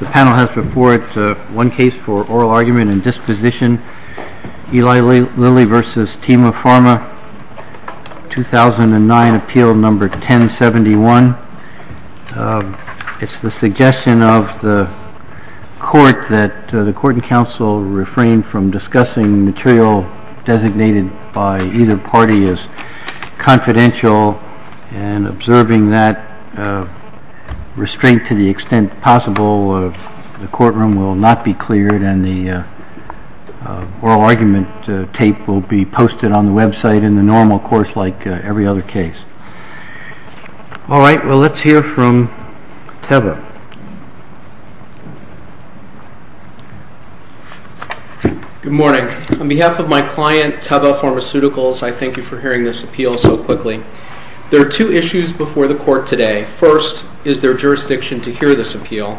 The panel has before it one case for oral argument and disposition, Eli Lilly v. Teva Pharma, 2009, appeal number 1071. It's the suggestion of the court that the court and counsel refrain from discussing material designated by either party as confidential and observing that restraint to the extent possible, the courtroom will not be cleared and the oral argument tape will be posted on the website in the normal course like every other case. Alright, well let's hear from Teva. Good morning. On behalf of my client, Teva Pharmaceuticals, I thank you for hearing this appeal so quickly. There are two issues before the court today. First, is there jurisdiction to hear this appeal?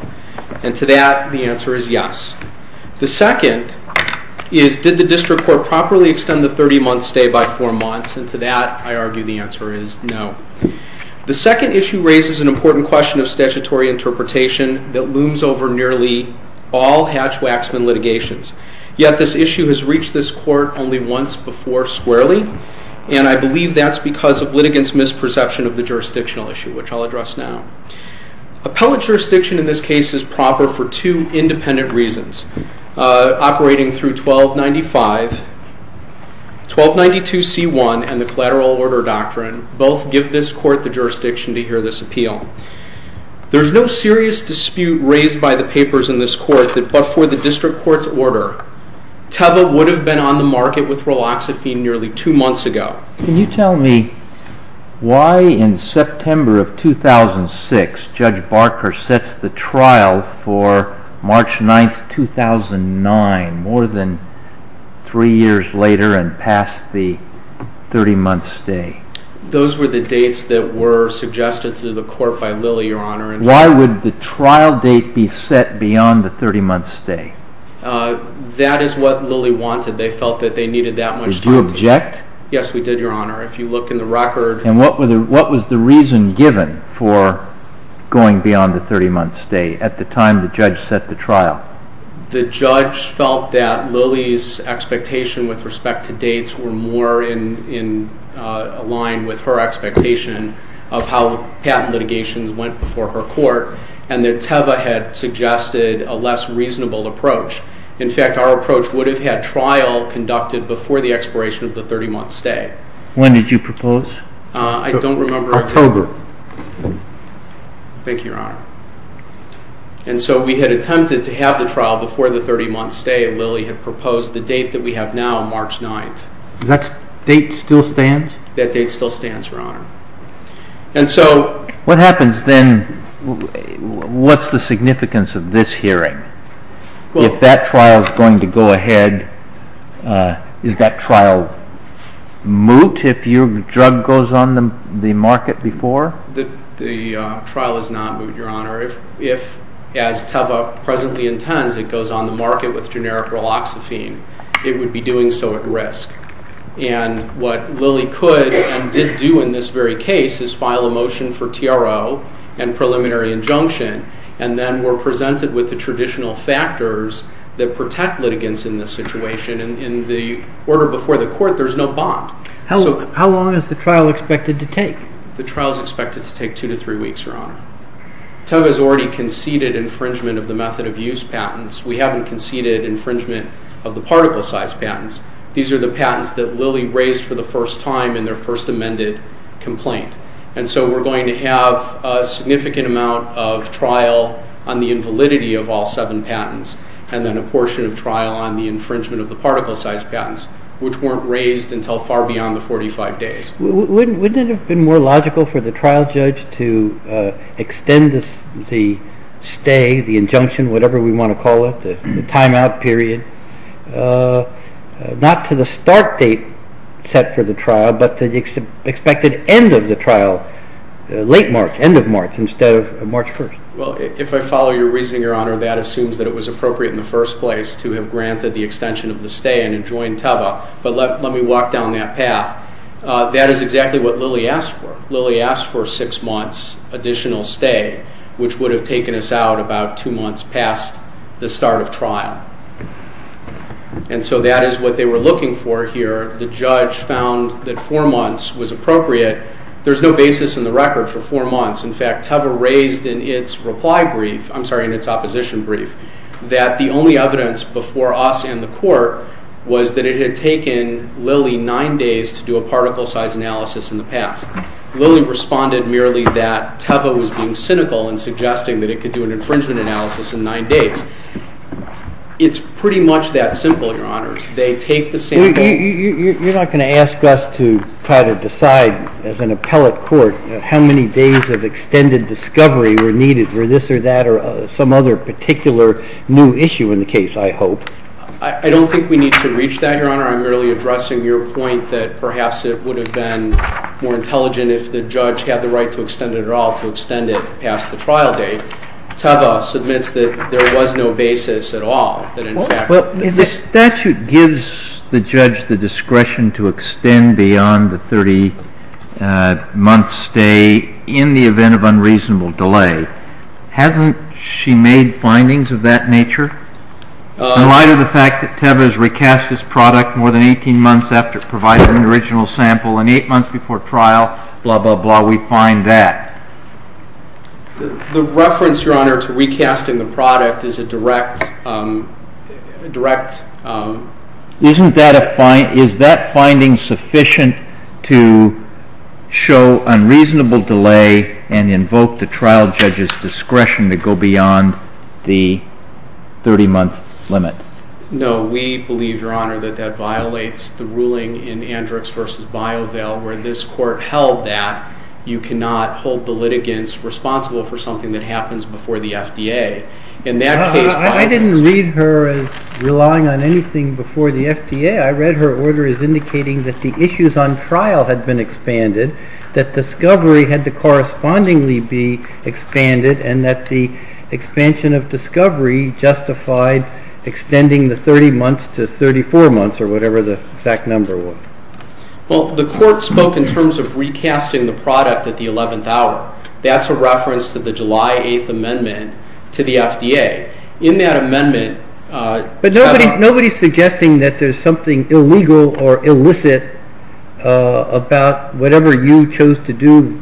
And to that, the answer is yes. The second is, did the district court properly extend the 30-month stay by four months? And to that, I argue the answer is no. The second issue raises an important question of statutory interpretation that looms over nearly all Hatch-Waxman litigations. Yet this issue has reached this court only once before squarely, and I believe that's because of litigants' misperception of the jurisdictional issue, which I'll address now. Appellate jurisdiction in this case is proper for two independent reasons. Operating through 1295, 1292C1 and the Collateral Order Doctrine both give this court the jurisdiction to hear this appeal. There's no serious dispute raised by the papers in this court that before the district court's order, Teva would have been on the market with Riloxifene nearly two months ago. Can you tell me why, in September of 2006, Judge Barker sets the trial for March 9, 2009, more than three years later and past the 30-month stay? Those were the dates that were suggested to the court by Lilly, Your Honor. Why would the trial date be set beyond the 30-month stay? That is what Lilly wanted. They felt that they needed that much time. Did you object? Yes, we did, Your Honor. If you look in the record... And what was the reason given for going beyond the 30-month stay at the time the judge set the trial? The judge felt that Lilly's expectation with respect to dates were more in line with her expectation of how patent litigations went before her court, and that Teva had suggested a less reasonable approach. In fact, our approach would have had trial conducted before the expiration of the 30-month stay. When did you propose? I don't remember. October. Thank you, Your Honor. And so we had attempted to have the trial before the 30-month stay, and Lilly had proposed the date that we have now, March 9. Does that date still stand? That date still stands, Your Honor. And so... What happens then? What's the significance of this hearing? If that trial is going to go ahead, is that trial moot if your drug goes on the market before? The trial is not moot, Your Honor. If, as Teva presently intends, it goes on the market with generic raloxifene, it would be doing so at risk. And what Lilly could and did do in this very case is file a motion for TRO and preliminary injunction, and then we're presented with the traditional factors that protect litigants in this situation. And in the order before the court, there's no bond. How long is the trial expected to take? The trial is expected to take two to three weeks, Your Honor. Teva has already conceded infringement of the method of use patents. We haven't conceded infringement of the particle size patents. These are the patents that Lilly raised for the first time in their first amended complaint. And so we're going to have a significant amount of trial on the invalidity of all seven patents and then a portion of trial on the infringement of the particle size patents, which weren't raised until far beyond the 45 days. Wouldn't it have been more logical for the trial judge to extend the stay, the injunction, whatever we want to call it, the timeout period, not to the start date set for the trial, but to the expected end of the trial, late March, end of March, instead of March 1st? Well, if I follow your reasoning, Your Honor, that assumes that it was appropriate in the first place to have granted the extension of the stay and enjoined Teva, but let me walk down that path. That is exactly what Lilly asked for. Lilly asked for six months additional stay, which would have taken us out about two months past the start of trial. And so that is what they were looking for here. The judge found that four months was appropriate. There's no basis in the record for four months. In fact, Teva raised in its reply brief, I'm sorry, in its opposition brief, that the only evidence before us and the court was that it had taken Lilly nine days to do a particle size analysis in the past. Lilly responded merely that Teva was being cynical in suggesting that it could do an infringement analysis in nine days. It's pretty much that simple, Your Honors. They take the same thing. You're not going to ask us to try to decide as an appellate court how many days of extended discovery were needed for this or that or some other particular new issue in the case, I hope. I don't think we need to reach that, Your Honor. I'm merely addressing your point that perhaps it would have been more intelligent if the judge had the right to extend it at all, to extend it past the trial date. Teva submits that there was no basis at all. The statute gives the judge the discretion to extend beyond the 30-month stay in the event of unreasonable delay. Hasn't she made findings of that nature? In light of the fact that Teva has recast this product more than 18 months after it provided an original sample and eight months before trial, blah, blah, blah, we find that. The reference, Your Honor, to recasting the product is a direct... Isn't that a finding? Is that finding sufficient to show unreasonable delay and invoke the trial judge's discretion to go beyond the 30-month limit? No. We believe, Your Honor, that that violates the ruling in Andrix v. BioVail where this court held that you cannot hold the litigants responsible for something that happens before the FDA. In that case, BioVail... I didn't read her as relying on anything before the FDA. I read her order as indicating that the issues on trial had been expanded, that discovery had to correspondingly be expanded, and that the expansion of discovery justified extending the 30 months to 34 months or whatever the exact number was. Well, the court spoke in terms of recasting the product at the 11th hour. That's a reference to the July 8th amendment to the FDA. In that amendment, Teva... But nobody's suggesting that there's something illegal or illicit about whatever you chose to do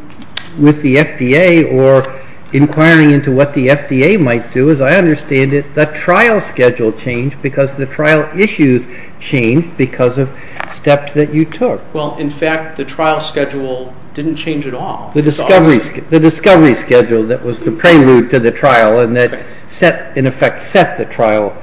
with the FDA or inquiring into what the FDA might do. As I understand it, the trial schedule changed because the trial issues changed because of steps that you took. Well, in fact, the trial schedule didn't change at all. The discovery schedule that was the prelude to the trial and that, in effect, set the trial.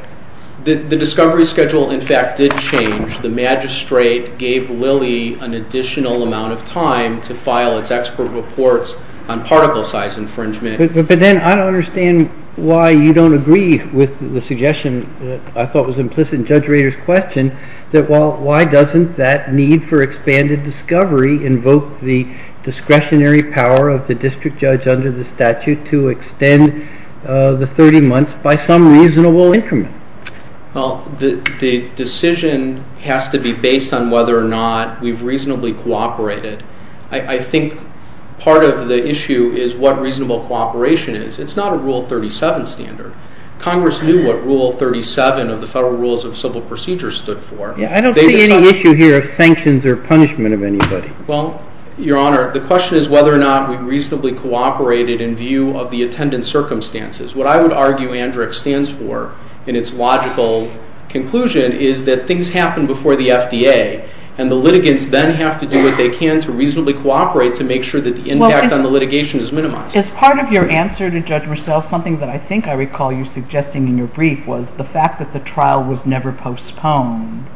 The discovery schedule, in fact, did change. The magistrate gave Lilly an additional amount of time to file its expert reports on particle size infringement. But then I don't understand why you don't agree with the suggestion that I thought was implicit in Judge Rader's question that why doesn't that need for expanded discovery invoke the discretionary power of the district judge under the statute to extend the 30 months by some reasonable increment? Well, the decision has to be based on whether or not we've reasonably cooperated. I think part of the issue is what reasonable cooperation is. It's not a Rule 37 standard. Congress knew what Rule 37 of the Federal Rules of Civil Procedure stood for. I don't see any issue here of sanctions or punishment of anybody. Well, Your Honor, the question is whether or not we reasonably cooperated in view of the attendant circumstances. What I would argue ANDRAC stands for in its logical conclusion is that things happen before the FDA, and the litigants then have to do what they can to reasonably cooperate to make sure that the impact on the litigation is minimized. As part of your answer to Judge Roussel, something that I think I recall you suggesting in your brief was the fact that the trial was never postponed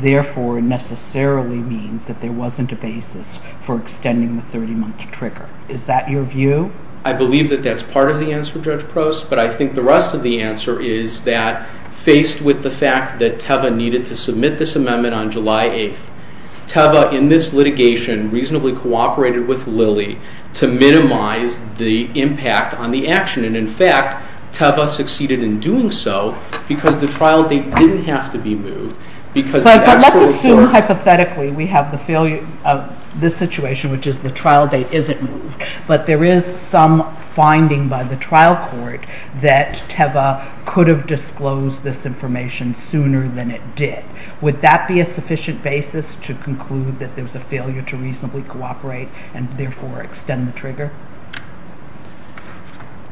therefore necessarily means that there wasn't a basis for extending the 30-month trigger. Is that your view? I believe that that's part of the answer, Judge Prost, but I think the rest of the answer is that faced with the fact that Teva needed to submit this amendment on July 8th, Teva in this litigation reasonably cooperated with Lilly to minimize the impact on the action, and in fact Teva succeeded in doing so because the trial date didn't have to be moved. But let's assume hypothetically we have the failure of this situation, which is the trial date isn't moved, but there is some finding by the trial court that Teva could have disclosed this information sooner than it did. Would that be a sufficient basis to conclude that there's a failure to reasonably cooperate and therefore extend the trigger?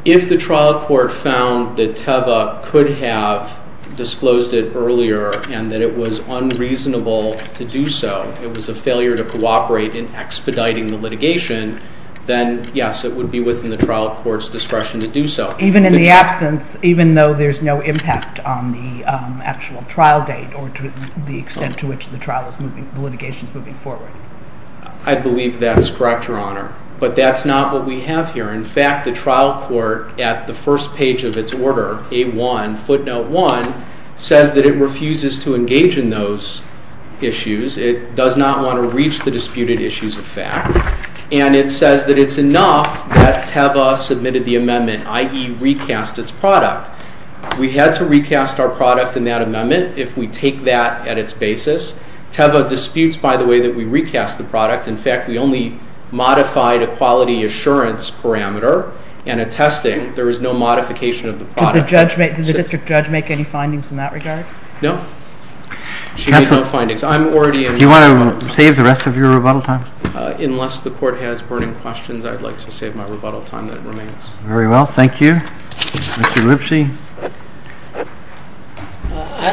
If the trial court found that Teva could have disclosed it earlier and that it was unreasonable to do so, it was a failure to cooperate in expediting the litigation, then yes, it would be within the trial court's discretion to do so. Even in the absence, even though there's no impact on the actual trial date or the extent to which the litigation is moving forward? I believe that's correct, Your Honor. But that's not what we have here. In fact, the trial court at the first page of its order, A1, footnote 1, says that it refuses to engage in those issues. It does not want to reach the disputed issues of fact. And it says that it's enough that Teva submitted the amendment, i.e., recast its product. We had to recast our product in that amendment if we take that at its basis. Teva disputes, by the way, that we recast the product. In fact, we only modified a quality assurance parameter and a testing. There was no modification of the product. Did the district judge make any findings in that regard? No. She made no findings. Do you want to save the rest of your rebuttal time? Unless the court has burning questions, I'd like to save my rebuttal time that remains. Very well. Thank you. Mr. Lipsy.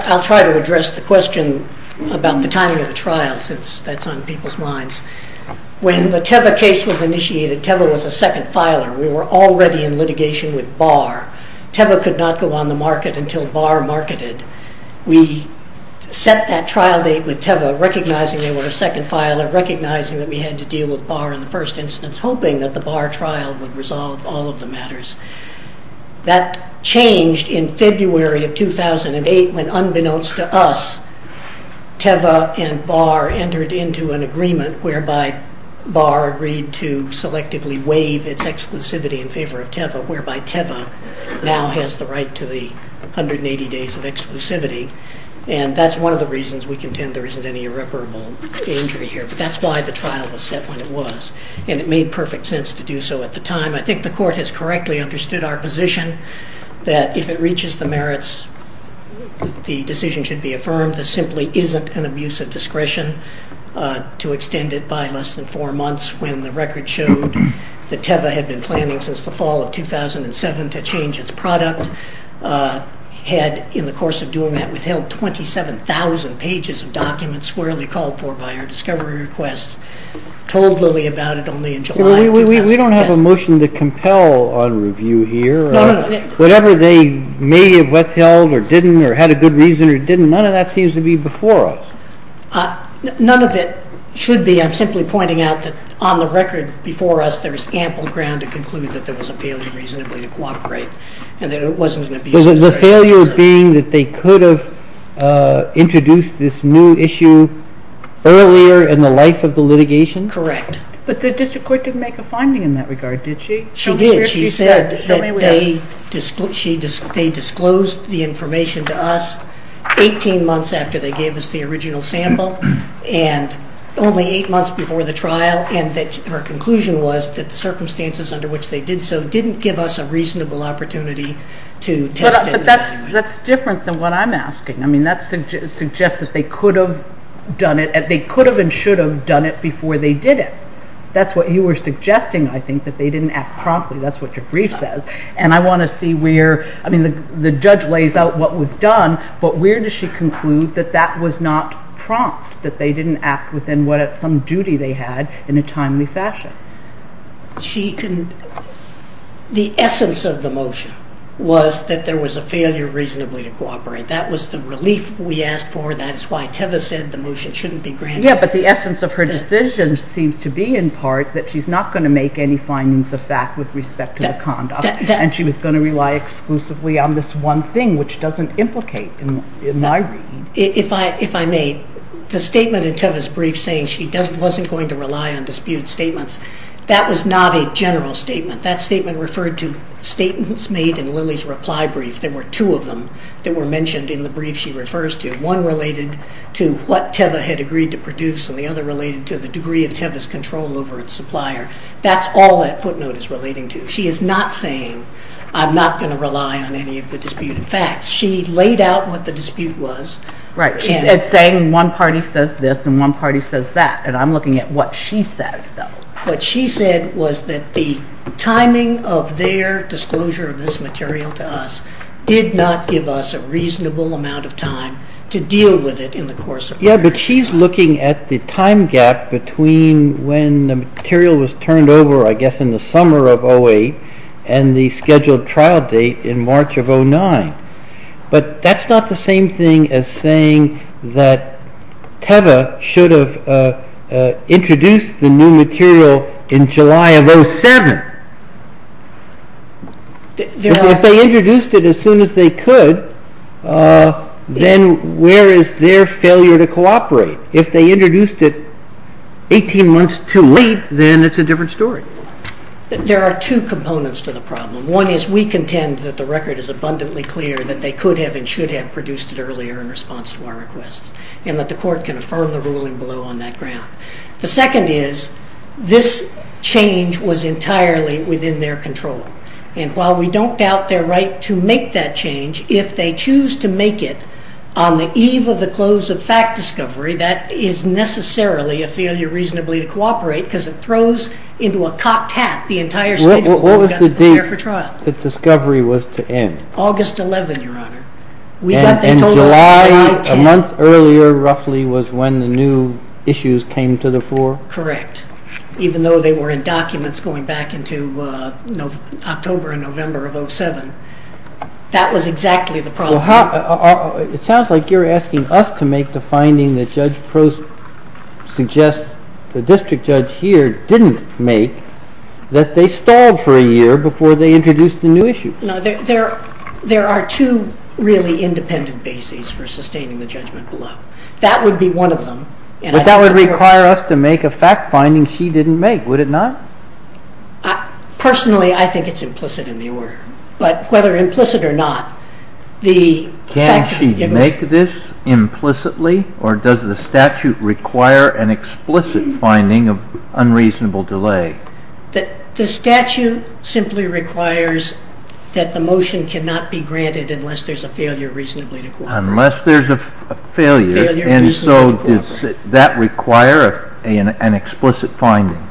I'll try to address the question about the timing of the trial since that's on people's minds. When the Teva case was initiated, Teva was a second filer. We were already in litigation with Barr. Teva could not go on the market until Barr marketed. We set that trial date with Teva, recognizing they were a second filer, recognizing that we had to deal with Barr in the first instance, hoping that the Barr trial would resolve all of the matters. That changed in February of 2008 when, unbeknownst to us, Teva and Barr entered into an agreement whereby Barr agreed to selectively waive its exclusivity in favor of Teva, whereby Teva now has the right to the 180 days of exclusivity. That's one of the reasons we contend there isn't any irreparable injury here. That's why the trial was set when it was, and it made perfect sense to do so at the time. I think the court has correctly understood our position that if it reaches the merits, the decision should be affirmed. There simply isn't an abuse of discretion to extend it by less than four months when the record showed that Teva had been planning since the fall of 2007 to change its product. We had, in the course of doing that, withheld 27,000 pages of documents squarely called for by our discovery request, told Lilly about it only in July of 2007. We don't have a motion to compel on review here. Whatever they may have withheld or didn't or had a good reason or didn't, none of that seems to be before us. None of it should be. I'm simply pointing out that on the record before us there is ample ground to conclude that there was a failure reasonably to cooperate and that it wasn't an abuse of discretion. The failure being that they could have introduced this new issue earlier in the life of the litigation? Correct. But the district court didn't make a finding in that regard, did she? She did. She said that they disclosed the information to us 18 months after they gave us the original sample and only eight months before the trial, and that her conclusion was that the circumstances under which they did so didn't give us a reasonable opportunity to test and evaluate. But that's different than what I'm asking. I mean, that suggests that they could have done it. They could have and should have done it before they did it. That's what you were suggesting, I think, that they didn't act promptly. That's what your brief says. And I want to see where the judge lays out what was done, but where does she conclude that that was not prompt, that they didn't act within some duty they had in a timely fashion? The essence of the motion was that there was a failure reasonably to cooperate. That was the relief we asked for. That is why Teva said the motion shouldn't be granted. Yeah, but the essence of her decision seems to be, in part, that she's not going to make any findings of that with respect to the conduct and she was going to rely exclusively on this one thing, which doesn't implicate in my reading. If I may, the statement in Teva's brief saying she wasn't going to rely on any of the dispute statements, that was not a general statement. That statement referred to statements made in Lilly's reply brief. There were two of them that were mentioned in the brief she refers to. One related to what Teva had agreed to produce and the other related to the degree of Teva's control over its supplier. That's all that footnote is relating to. She is not saying I'm not going to rely on any of the disputed facts. She laid out what the dispute was. Right. She's saying one party says this and one party says that, and I'm looking at what she says, though. What she said was that the timing of their disclosure of this material to us did not give us a reasonable amount of time to deal with it in the course of time. Yeah, but she's looking at the time gap between when the material was turned over, I guess, in the summer of 2008 and the scheduled trial date in March of 2009. But that's not the same thing as saying that Teva should have introduced the new material in July of 2007. If they introduced it as soon as they could, then where is their failure to cooperate? If they introduced it 18 months too late, then it's a different story. There are two components to the problem. One is we contend that the record is abundantly clear that they could have and should have produced it earlier in response to our requests and that the court can affirm the ruling below on that ground. The second is this change was entirely within their control, and while we don't doubt their right to make that change, if they choose to make it on the eve of the close of fact discovery, that is necessarily a failure reasonably to cooperate because it throws into a cocked hat the entire schedule. What was the date the discovery was to end? August 11, Your Honor. And July, a month earlier roughly, was when the new issues came to the fore? Correct. Even though they were in documents going back into October and November of 2007. That was exactly the problem. It sounds like you're asking us to make the finding that Judge Prost suggests the district judge here didn't make that they stalled for a year before they introduced the new issue. There are two really independent bases for sustaining the judgment below. That would be one of them. But that would require us to make a fact finding she didn't make, would it not? Personally, I think it's implicit in the order, but whether implicit or not. Can she make this implicitly, or does the statute require an explicit finding of unreasonable delay? The statute simply requires that the motion cannot be granted unless there's a failure reasonably to cooperate. Unless there's a failure, and so does that require an explicit finding?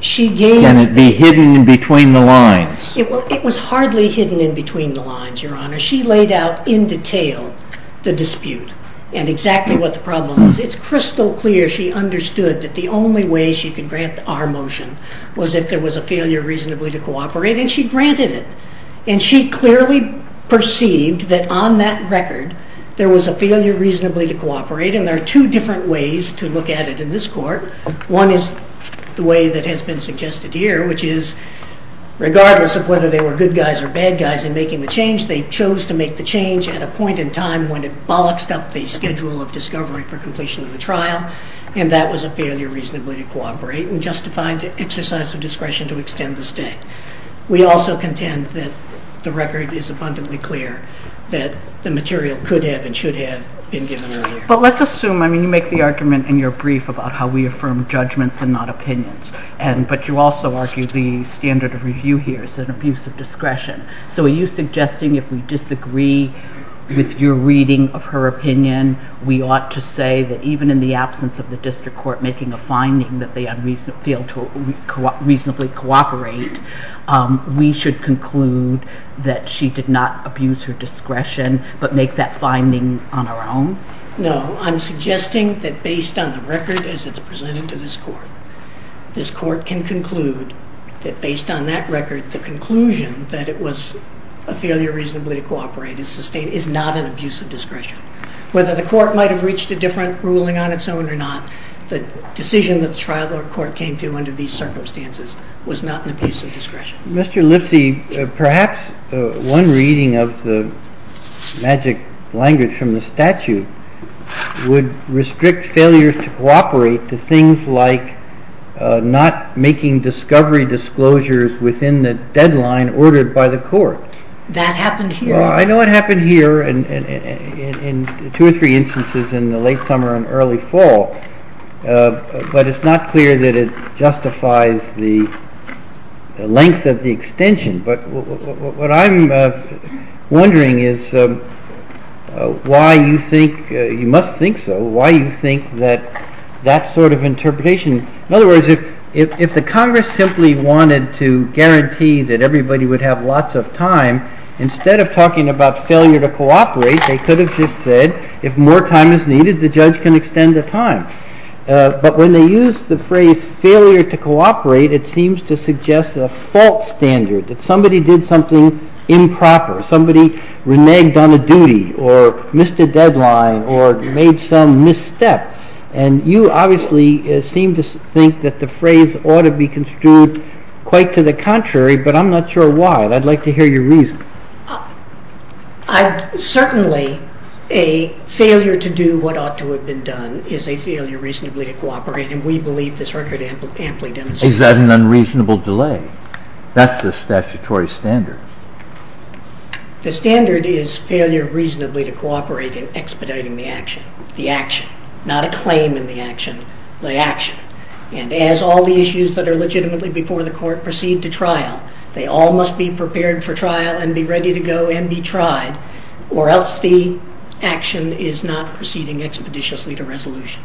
Can it be hidden in between the lines? It was hardly hidden in between the lines, Your Honor. She laid out in detail the dispute and exactly what the problem was. It's crystal clear she understood that the only way she could grant our motion was if there was a failure reasonably to cooperate, and she granted it. And she clearly perceived that on that record there was a failure reasonably to cooperate, and there are two different ways to look at it in this court. One is the way that has been suggested here, which is regardless of whether they were good guys or bad guys in making the change, they chose to make the change at a point in time when it bolloxed up the schedule of discovery for completion of the trial, and that was a failure reasonably to cooperate and justified exercise of discretion to extend the state. We also contend that the record is abundantly clear that the material could have and should have been given earlier. But let's assume, I mean, you make the argument in your brief about how we affirm judgments and not opinions, but you also argue the standard of review here is an abuse of discretion. So are you suggesting if we disagree with your reading of her opinion we ought to say that even in the absence of the district court making a finding that they failed to reasonably cooperate, we should conclude that she did not abuse her discretion but make that finding on our own? No, I'm suggesting that based on the record as it's presented to this court, this court can conclude that based on that record, the conclusion that it was a failure reasonably to cooperate is not an abuse of discretion. Whether the court might have reached a different ruling on its own or not, the decision that the trial court came to under these circumstances was not an abuse of discretion. Mr. Lipsy, perhaps one reading of the magic language from the statute would restrict failures to cooperate to things like not making discovery disclosures within the deadline ordered by the court. That happened here. Well, I know it happened here in two or three instances in the late summer and early fall, but it's not clear that it justifies the length of the extension. But what I'm wondering is why you think, you must think so, why you think that that sort of interpretation, in other words, if the Congress simply wanted to guarantee that everybody would have lots of time, instead of talking about failure to cooperate, they could have just said if more time is needed, the judge can extend the time. But when they use the phrase failure to cooperate, it seems to suggest a false standard, that somebody did something improper, somebody reneged on a duty or missed a deadline or made some missteps. And you obviously seem to think that the phrase ought to be construed quite to the contrary, but I'm not sure why. And I'd like to hear your reason. Certainly a failure to do what ought to have been done is a failure reasonably to cooperate, and we believe this record amply demonstrates that. Is that an unreasonable delay? That's the statutory standard. The standard is failure reasonably to cooperate in expediting the action, the action, not a claim in the action, the action. And as all the issues that are legitimately before the court proceed to trial, they all must be prepared for trial and be ready to go and be tried, or else the action is not proceeding expeditiously to resolution.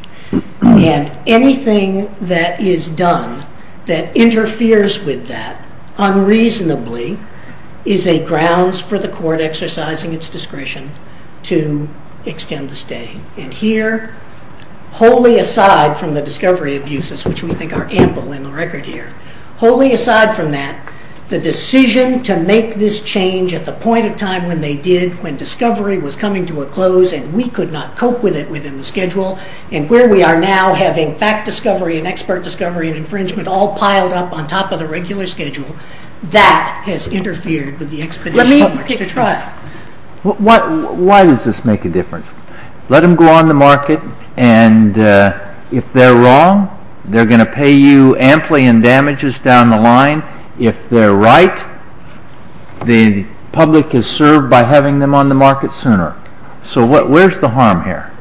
And anything that is done that interferes with that unreasonably is a grounds for the court exercising its discretion to extend the stay. And here, wholly aside from the discovery abuses, which we think are ample in the record here, wholly aside from that, the decision to make this change at the point of time when they did, when discovery was coming to a close and we could not cope with it within the schedule, and where we are now having fact discovery and expert discovery and infringement all piled up on top of the regular schedule, that has interfered with the expeditions to trial. Why does this make a difference? Let them go on the market, and if they're wrong, they're going to pay you amply in damages down the line. If they're right, the public is served by having them on the market sooner. So where's the harm here?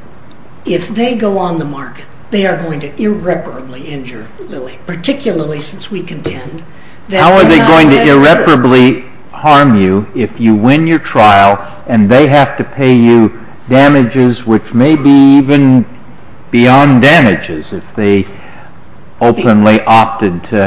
If they go on the market, they are going to irreparably injure Lilly, particularly since we contend that they're not going to... How are they going to irreparably harm you if you win your trial and they have to pay you damages which may be even beyond damages? If they openly opted to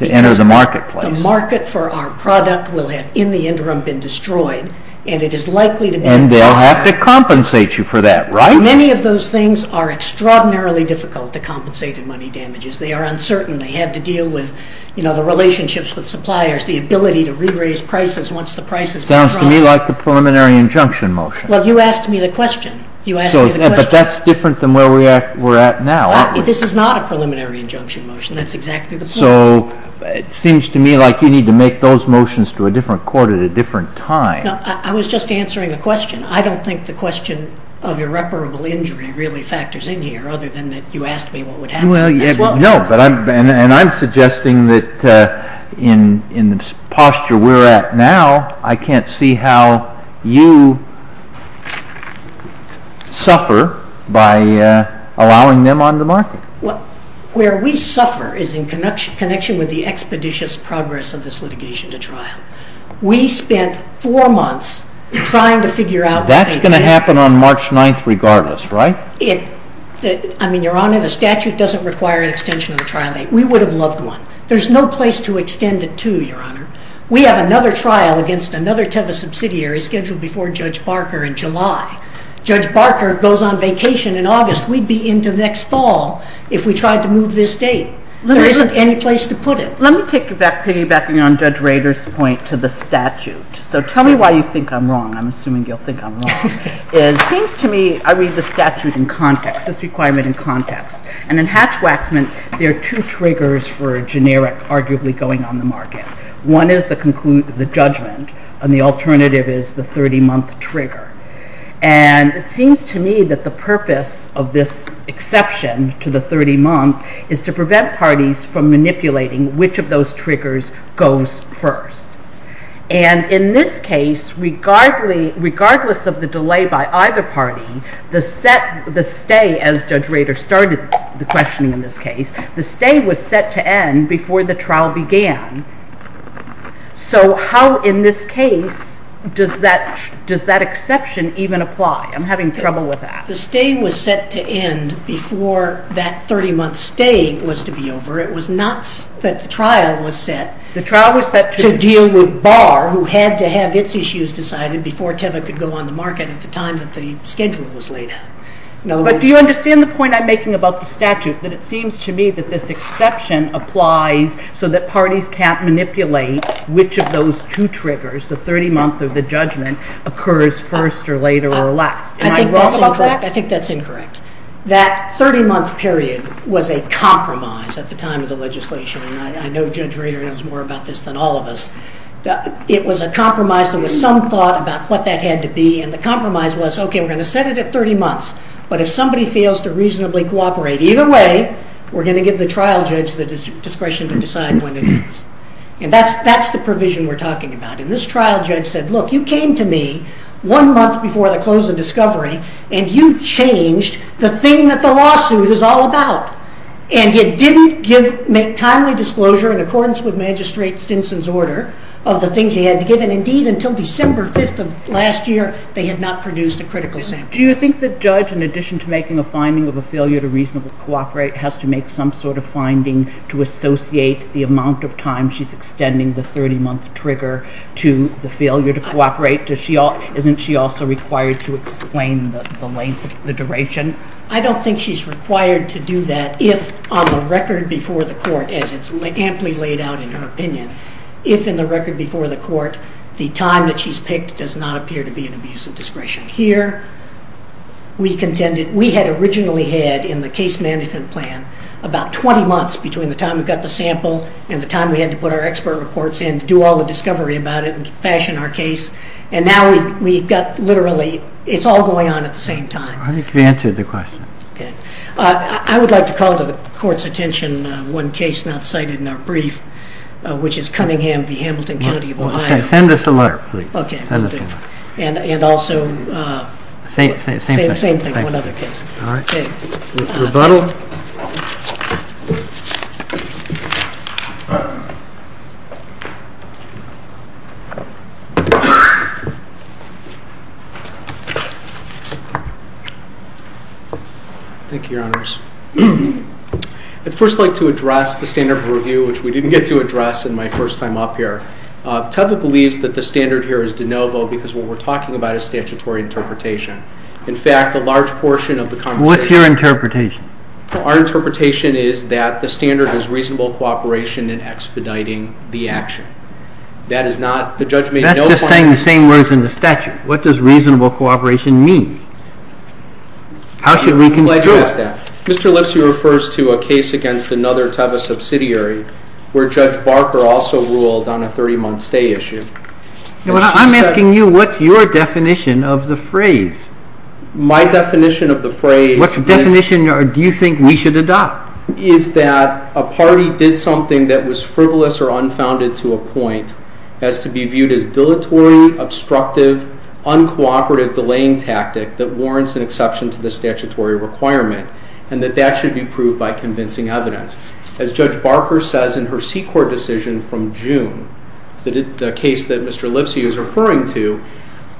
enter the marketplace. The market for our product will have in the interim been destroyed, and it is likely to be... And they'll have to compensate you for that, right? Many of those things are extraordinarily difficult to compensate in money damages. They are uncertain. They have to deal with the relationships with suppliers, the ability to re-raise prices once the price has been dropped. Sounds to me like a preliminary injunction motion. Well, you asked me the question. But that's different than where we're at now. This is not a preliminary injunction motion. That's exactly the point. So it seems to me like you need to make those motions to a different court at a different time. No, I was just answering a question. I don't think the question of irreparable injury really factors in here other than that you asked me what would happen. No, and I'm suggesting that in the posture we're at now, I can't see how you suffer by allowing them on the market. Where we suffer is in connection with the expeditious progress of this litigation to trial. We spent four months trying to figure out... That's going to happen on March 9th regardless, right? I mean, Your Honor, the statute doesn't require an extension of the trial date. We would have loved one. There's no place to extend it to, Your Honor. We have another trial against another Teva subsidiary scheduled before Judge Barker in July. Judge Barker goes on vacation in August. We'd be into next fall if we tried to move this date. There isn't any place to put it. Let me piggybacking on Judge Rader's point to the statute. So tell me why you think I'm wrong. I'm assuming you'll think I'm wrong. It seems to me I read the statute in context, this requirement in context. And in Hatch-Waxman, there are two triggers for a generic, arguably, going on the market. One is the judgment, and the alternative is the 30-month trigger. And it seems to me that the purpose of this exception to the 30-month is to prevent parties from manipulating which of those triggers goes first. And in this case, regardless of the delay by either party, the stay as Judge Rader started the questioning in this case, the stay was set to end before the trial began. So how in this case does that exception even apply? I'm having trouble with that. The stay was set to end before that 30-month stay was to be over. It was not that the trial was set to deal with Barr, who had to have its issues decided before Teva could go on the market at the time that the schedule was laid out. But do you understand the point I'm making about the statute, that it seems to me that this exception applies so that parties can't manipulate which of those two triggers, the 30-month or the judgment, occurs first or later or last? Am I wrong about that? I think that's incorrect. That 30-month period was a compromise at the time of the legislation, and I know Judge Rader knows more about this than all of us. It was a compromise. There was some thought about what that had to be, and the compromise was, okay, we're going to set it at 30 months, but if somebody fails to reasonably cooperate, either way we're going to give the trial judge the discretion to decide when it ends. And that's the provision we're talking about. And this trial judge said, look, you came to me one month before the close of discovery, and you changed the thing that the lawsuit is all about, and you didn't make timely disclosure in accordance with Magistrate Stinson's order of the things he had to give, and indeed until December 5th of last year they had not produced a critical sample. Do you think the judge, in addition to making a finding of a failure to reasonably cooperate, has to make some sort of finding to associate the amount of time she's extending the 30-month trigger to the failure to cooperate? Isn't she also required to explain the length, the duration? I don't think she's required to do that if on the record before the court, as it's amply laid out in her opinion, if in the record before the court the time that she's picked does not appear to be an abuse of discretion. Here we contended we had originally had in the case management plan about 20 months between the time we got the sample and the time we had to put our expert reports in to do all the discovery about it and fashion our case, and now we've got literally it's all going on at the same time. I think you answered the question. I would like to call to the Court's attention one case not cited in our brief, which is Cunningham v. Hamilton County of Ohio. Send us a letter, please. Okay. And also say the same thing, one other case. All right. Rebuttal. Thank you, Your Honors. I'd first like to address the standard of review, which we didn't get to address in my first time up here. Teva believes that the standard here is de novo because what we're talking about is statutory interpretation. In fact, a large portion of the conversation What's your interpretation? Our interpretation is that the standard is reasonable cooperation in expediting the action. That is not, the judge made no point That's just saying the same words in the statute. What does reasonable cooperation mean? How should we conclude? Mr. Lipsky refers to a case against another Teva subsidiary where Judge Barker also ruled on a 30-month stay issue. I'm asking you, what's your definition of the phrase? My definition of the phrase is What's the definition or do you think we should adopt? Is that a party did something that was frivolous or unfounded to a point as to be viewed as dilatory, obstructive, uncooperative, delaying tactic that warrants an exception to the statutory requirement and that that should be proved by convincing evidence. As Judge Barker says in her C-Corp decision from June the case that Mr. Lipsky is referring to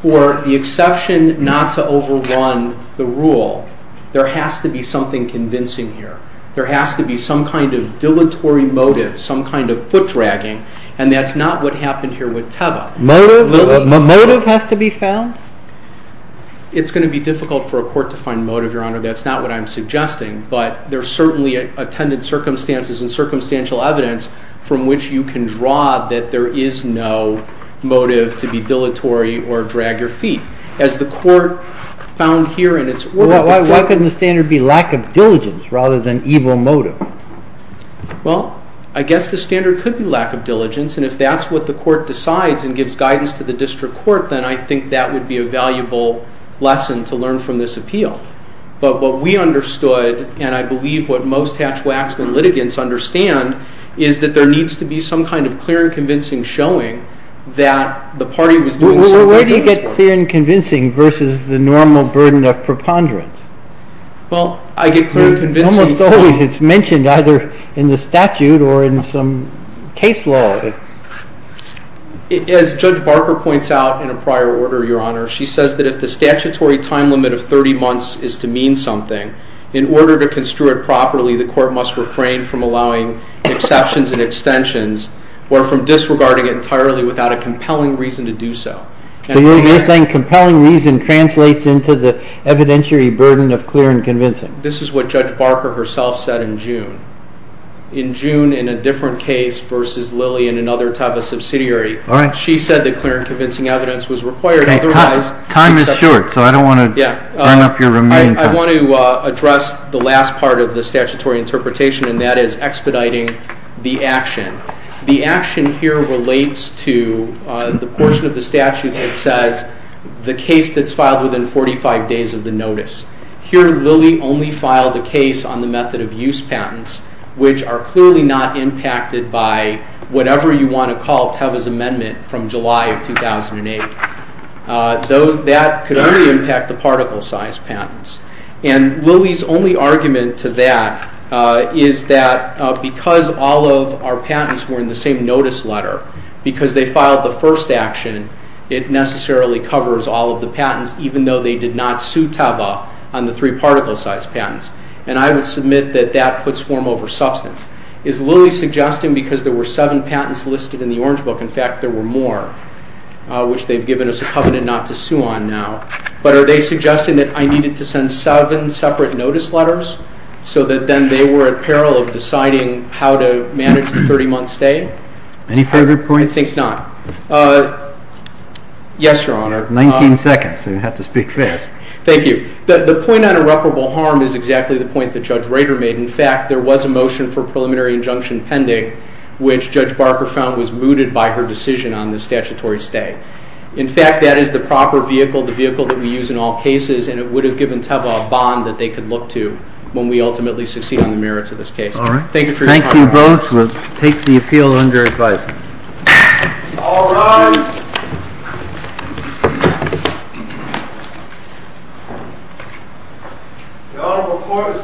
for the exception not to overrun the rule there has to be something convincing here. There has to be some kind of dilatory motive, some kind of foot dragging and that's not what happened here with Teva. Motive has to be found? It's going to be difficult for a court to find motive, Your Honor. That's not what I'm suggesting. But there are certainly attended circumstances and circumstantial evidence from which you can draw that there is no motive to be dilatory or drag your feet. As the court found here in its work... Why couldn't the standard be lack of diligence rather than evil motive? Well, I guess the standard could be lack of diligence and if that's what the court decides and gives guidance to the district court then I think that would be a valuable lesson to learn from this appeal. But what we understood and I believe what most Hatch-Waxman litigants understand is that there needs to be some kind of clear and convincing showing that the party was doing something... Where do you get clear and convincing versus the normal burden of preponderance? Well, I get clear and convincing... It's mentioned either in the statute or in some case law. As Judge Barker points out in a prior order, Your Honor, she says that if the statutory time limit of 30 months is to mean something, in order to construe it properly, the court must refrain from allowing exceptions and extensions or from disregarding it entirely without a compelling reason to do so. So you're saying compelling reason translates into the evidentiary burden of clear and convincing. This is what Judge Barker herself said in June. In June in a different case versus Lilly in another type of subsidiary, she said that clear and convincing evidence was required, otherwise... Time is short, so I don't want to burn up your remaining time. I want to address the last part of the statutory interpretation, and that is expediting the action. The action here relates to the portion of the statute that says the case that's filed within 45 days of the notice. Here, Lilly only filed a case on the method of use patents, which are clearly not impacted by whatever you want to call Teva's amendment from July of 2008. That could only impact the particle-sized patents. And Lilly's only argument to that is that because all of our patents were in the same notice letter, because they filed the first action, it necessarily covers all of the patents, even though they did not sue Teva on the three particle-sized patents. And I would submit that that puts form over substance. Is Lilly suggesting because there were seven patents listed in the Orange Book, in fact, there were more, which they've given us a covenant not to sue on now, but are they suggesting that I needed to send seven separate notice letters so that then they were at peril of deciding how to manage the 30-month stay? Any further points? I think not. Yes, Your Honor. 19 seconds, so you have to speak first. Thank you. The point on irreparable harm is exactly the point that Judge Rader made. In fact, there was a motion for preliminary injunction pending, which Judge Barker found was mooted by her decision on the statutory stay. In fact, that is the proper vehicle, the vehicle that we use in all cases, and it would have given Teva a bond that they could look to when we ultimately succeed on the merits of this case. All right. Thank you for your time. Thank you both. We'll take the appeal under advice. All rise. The honorable court is adjourned from day to day.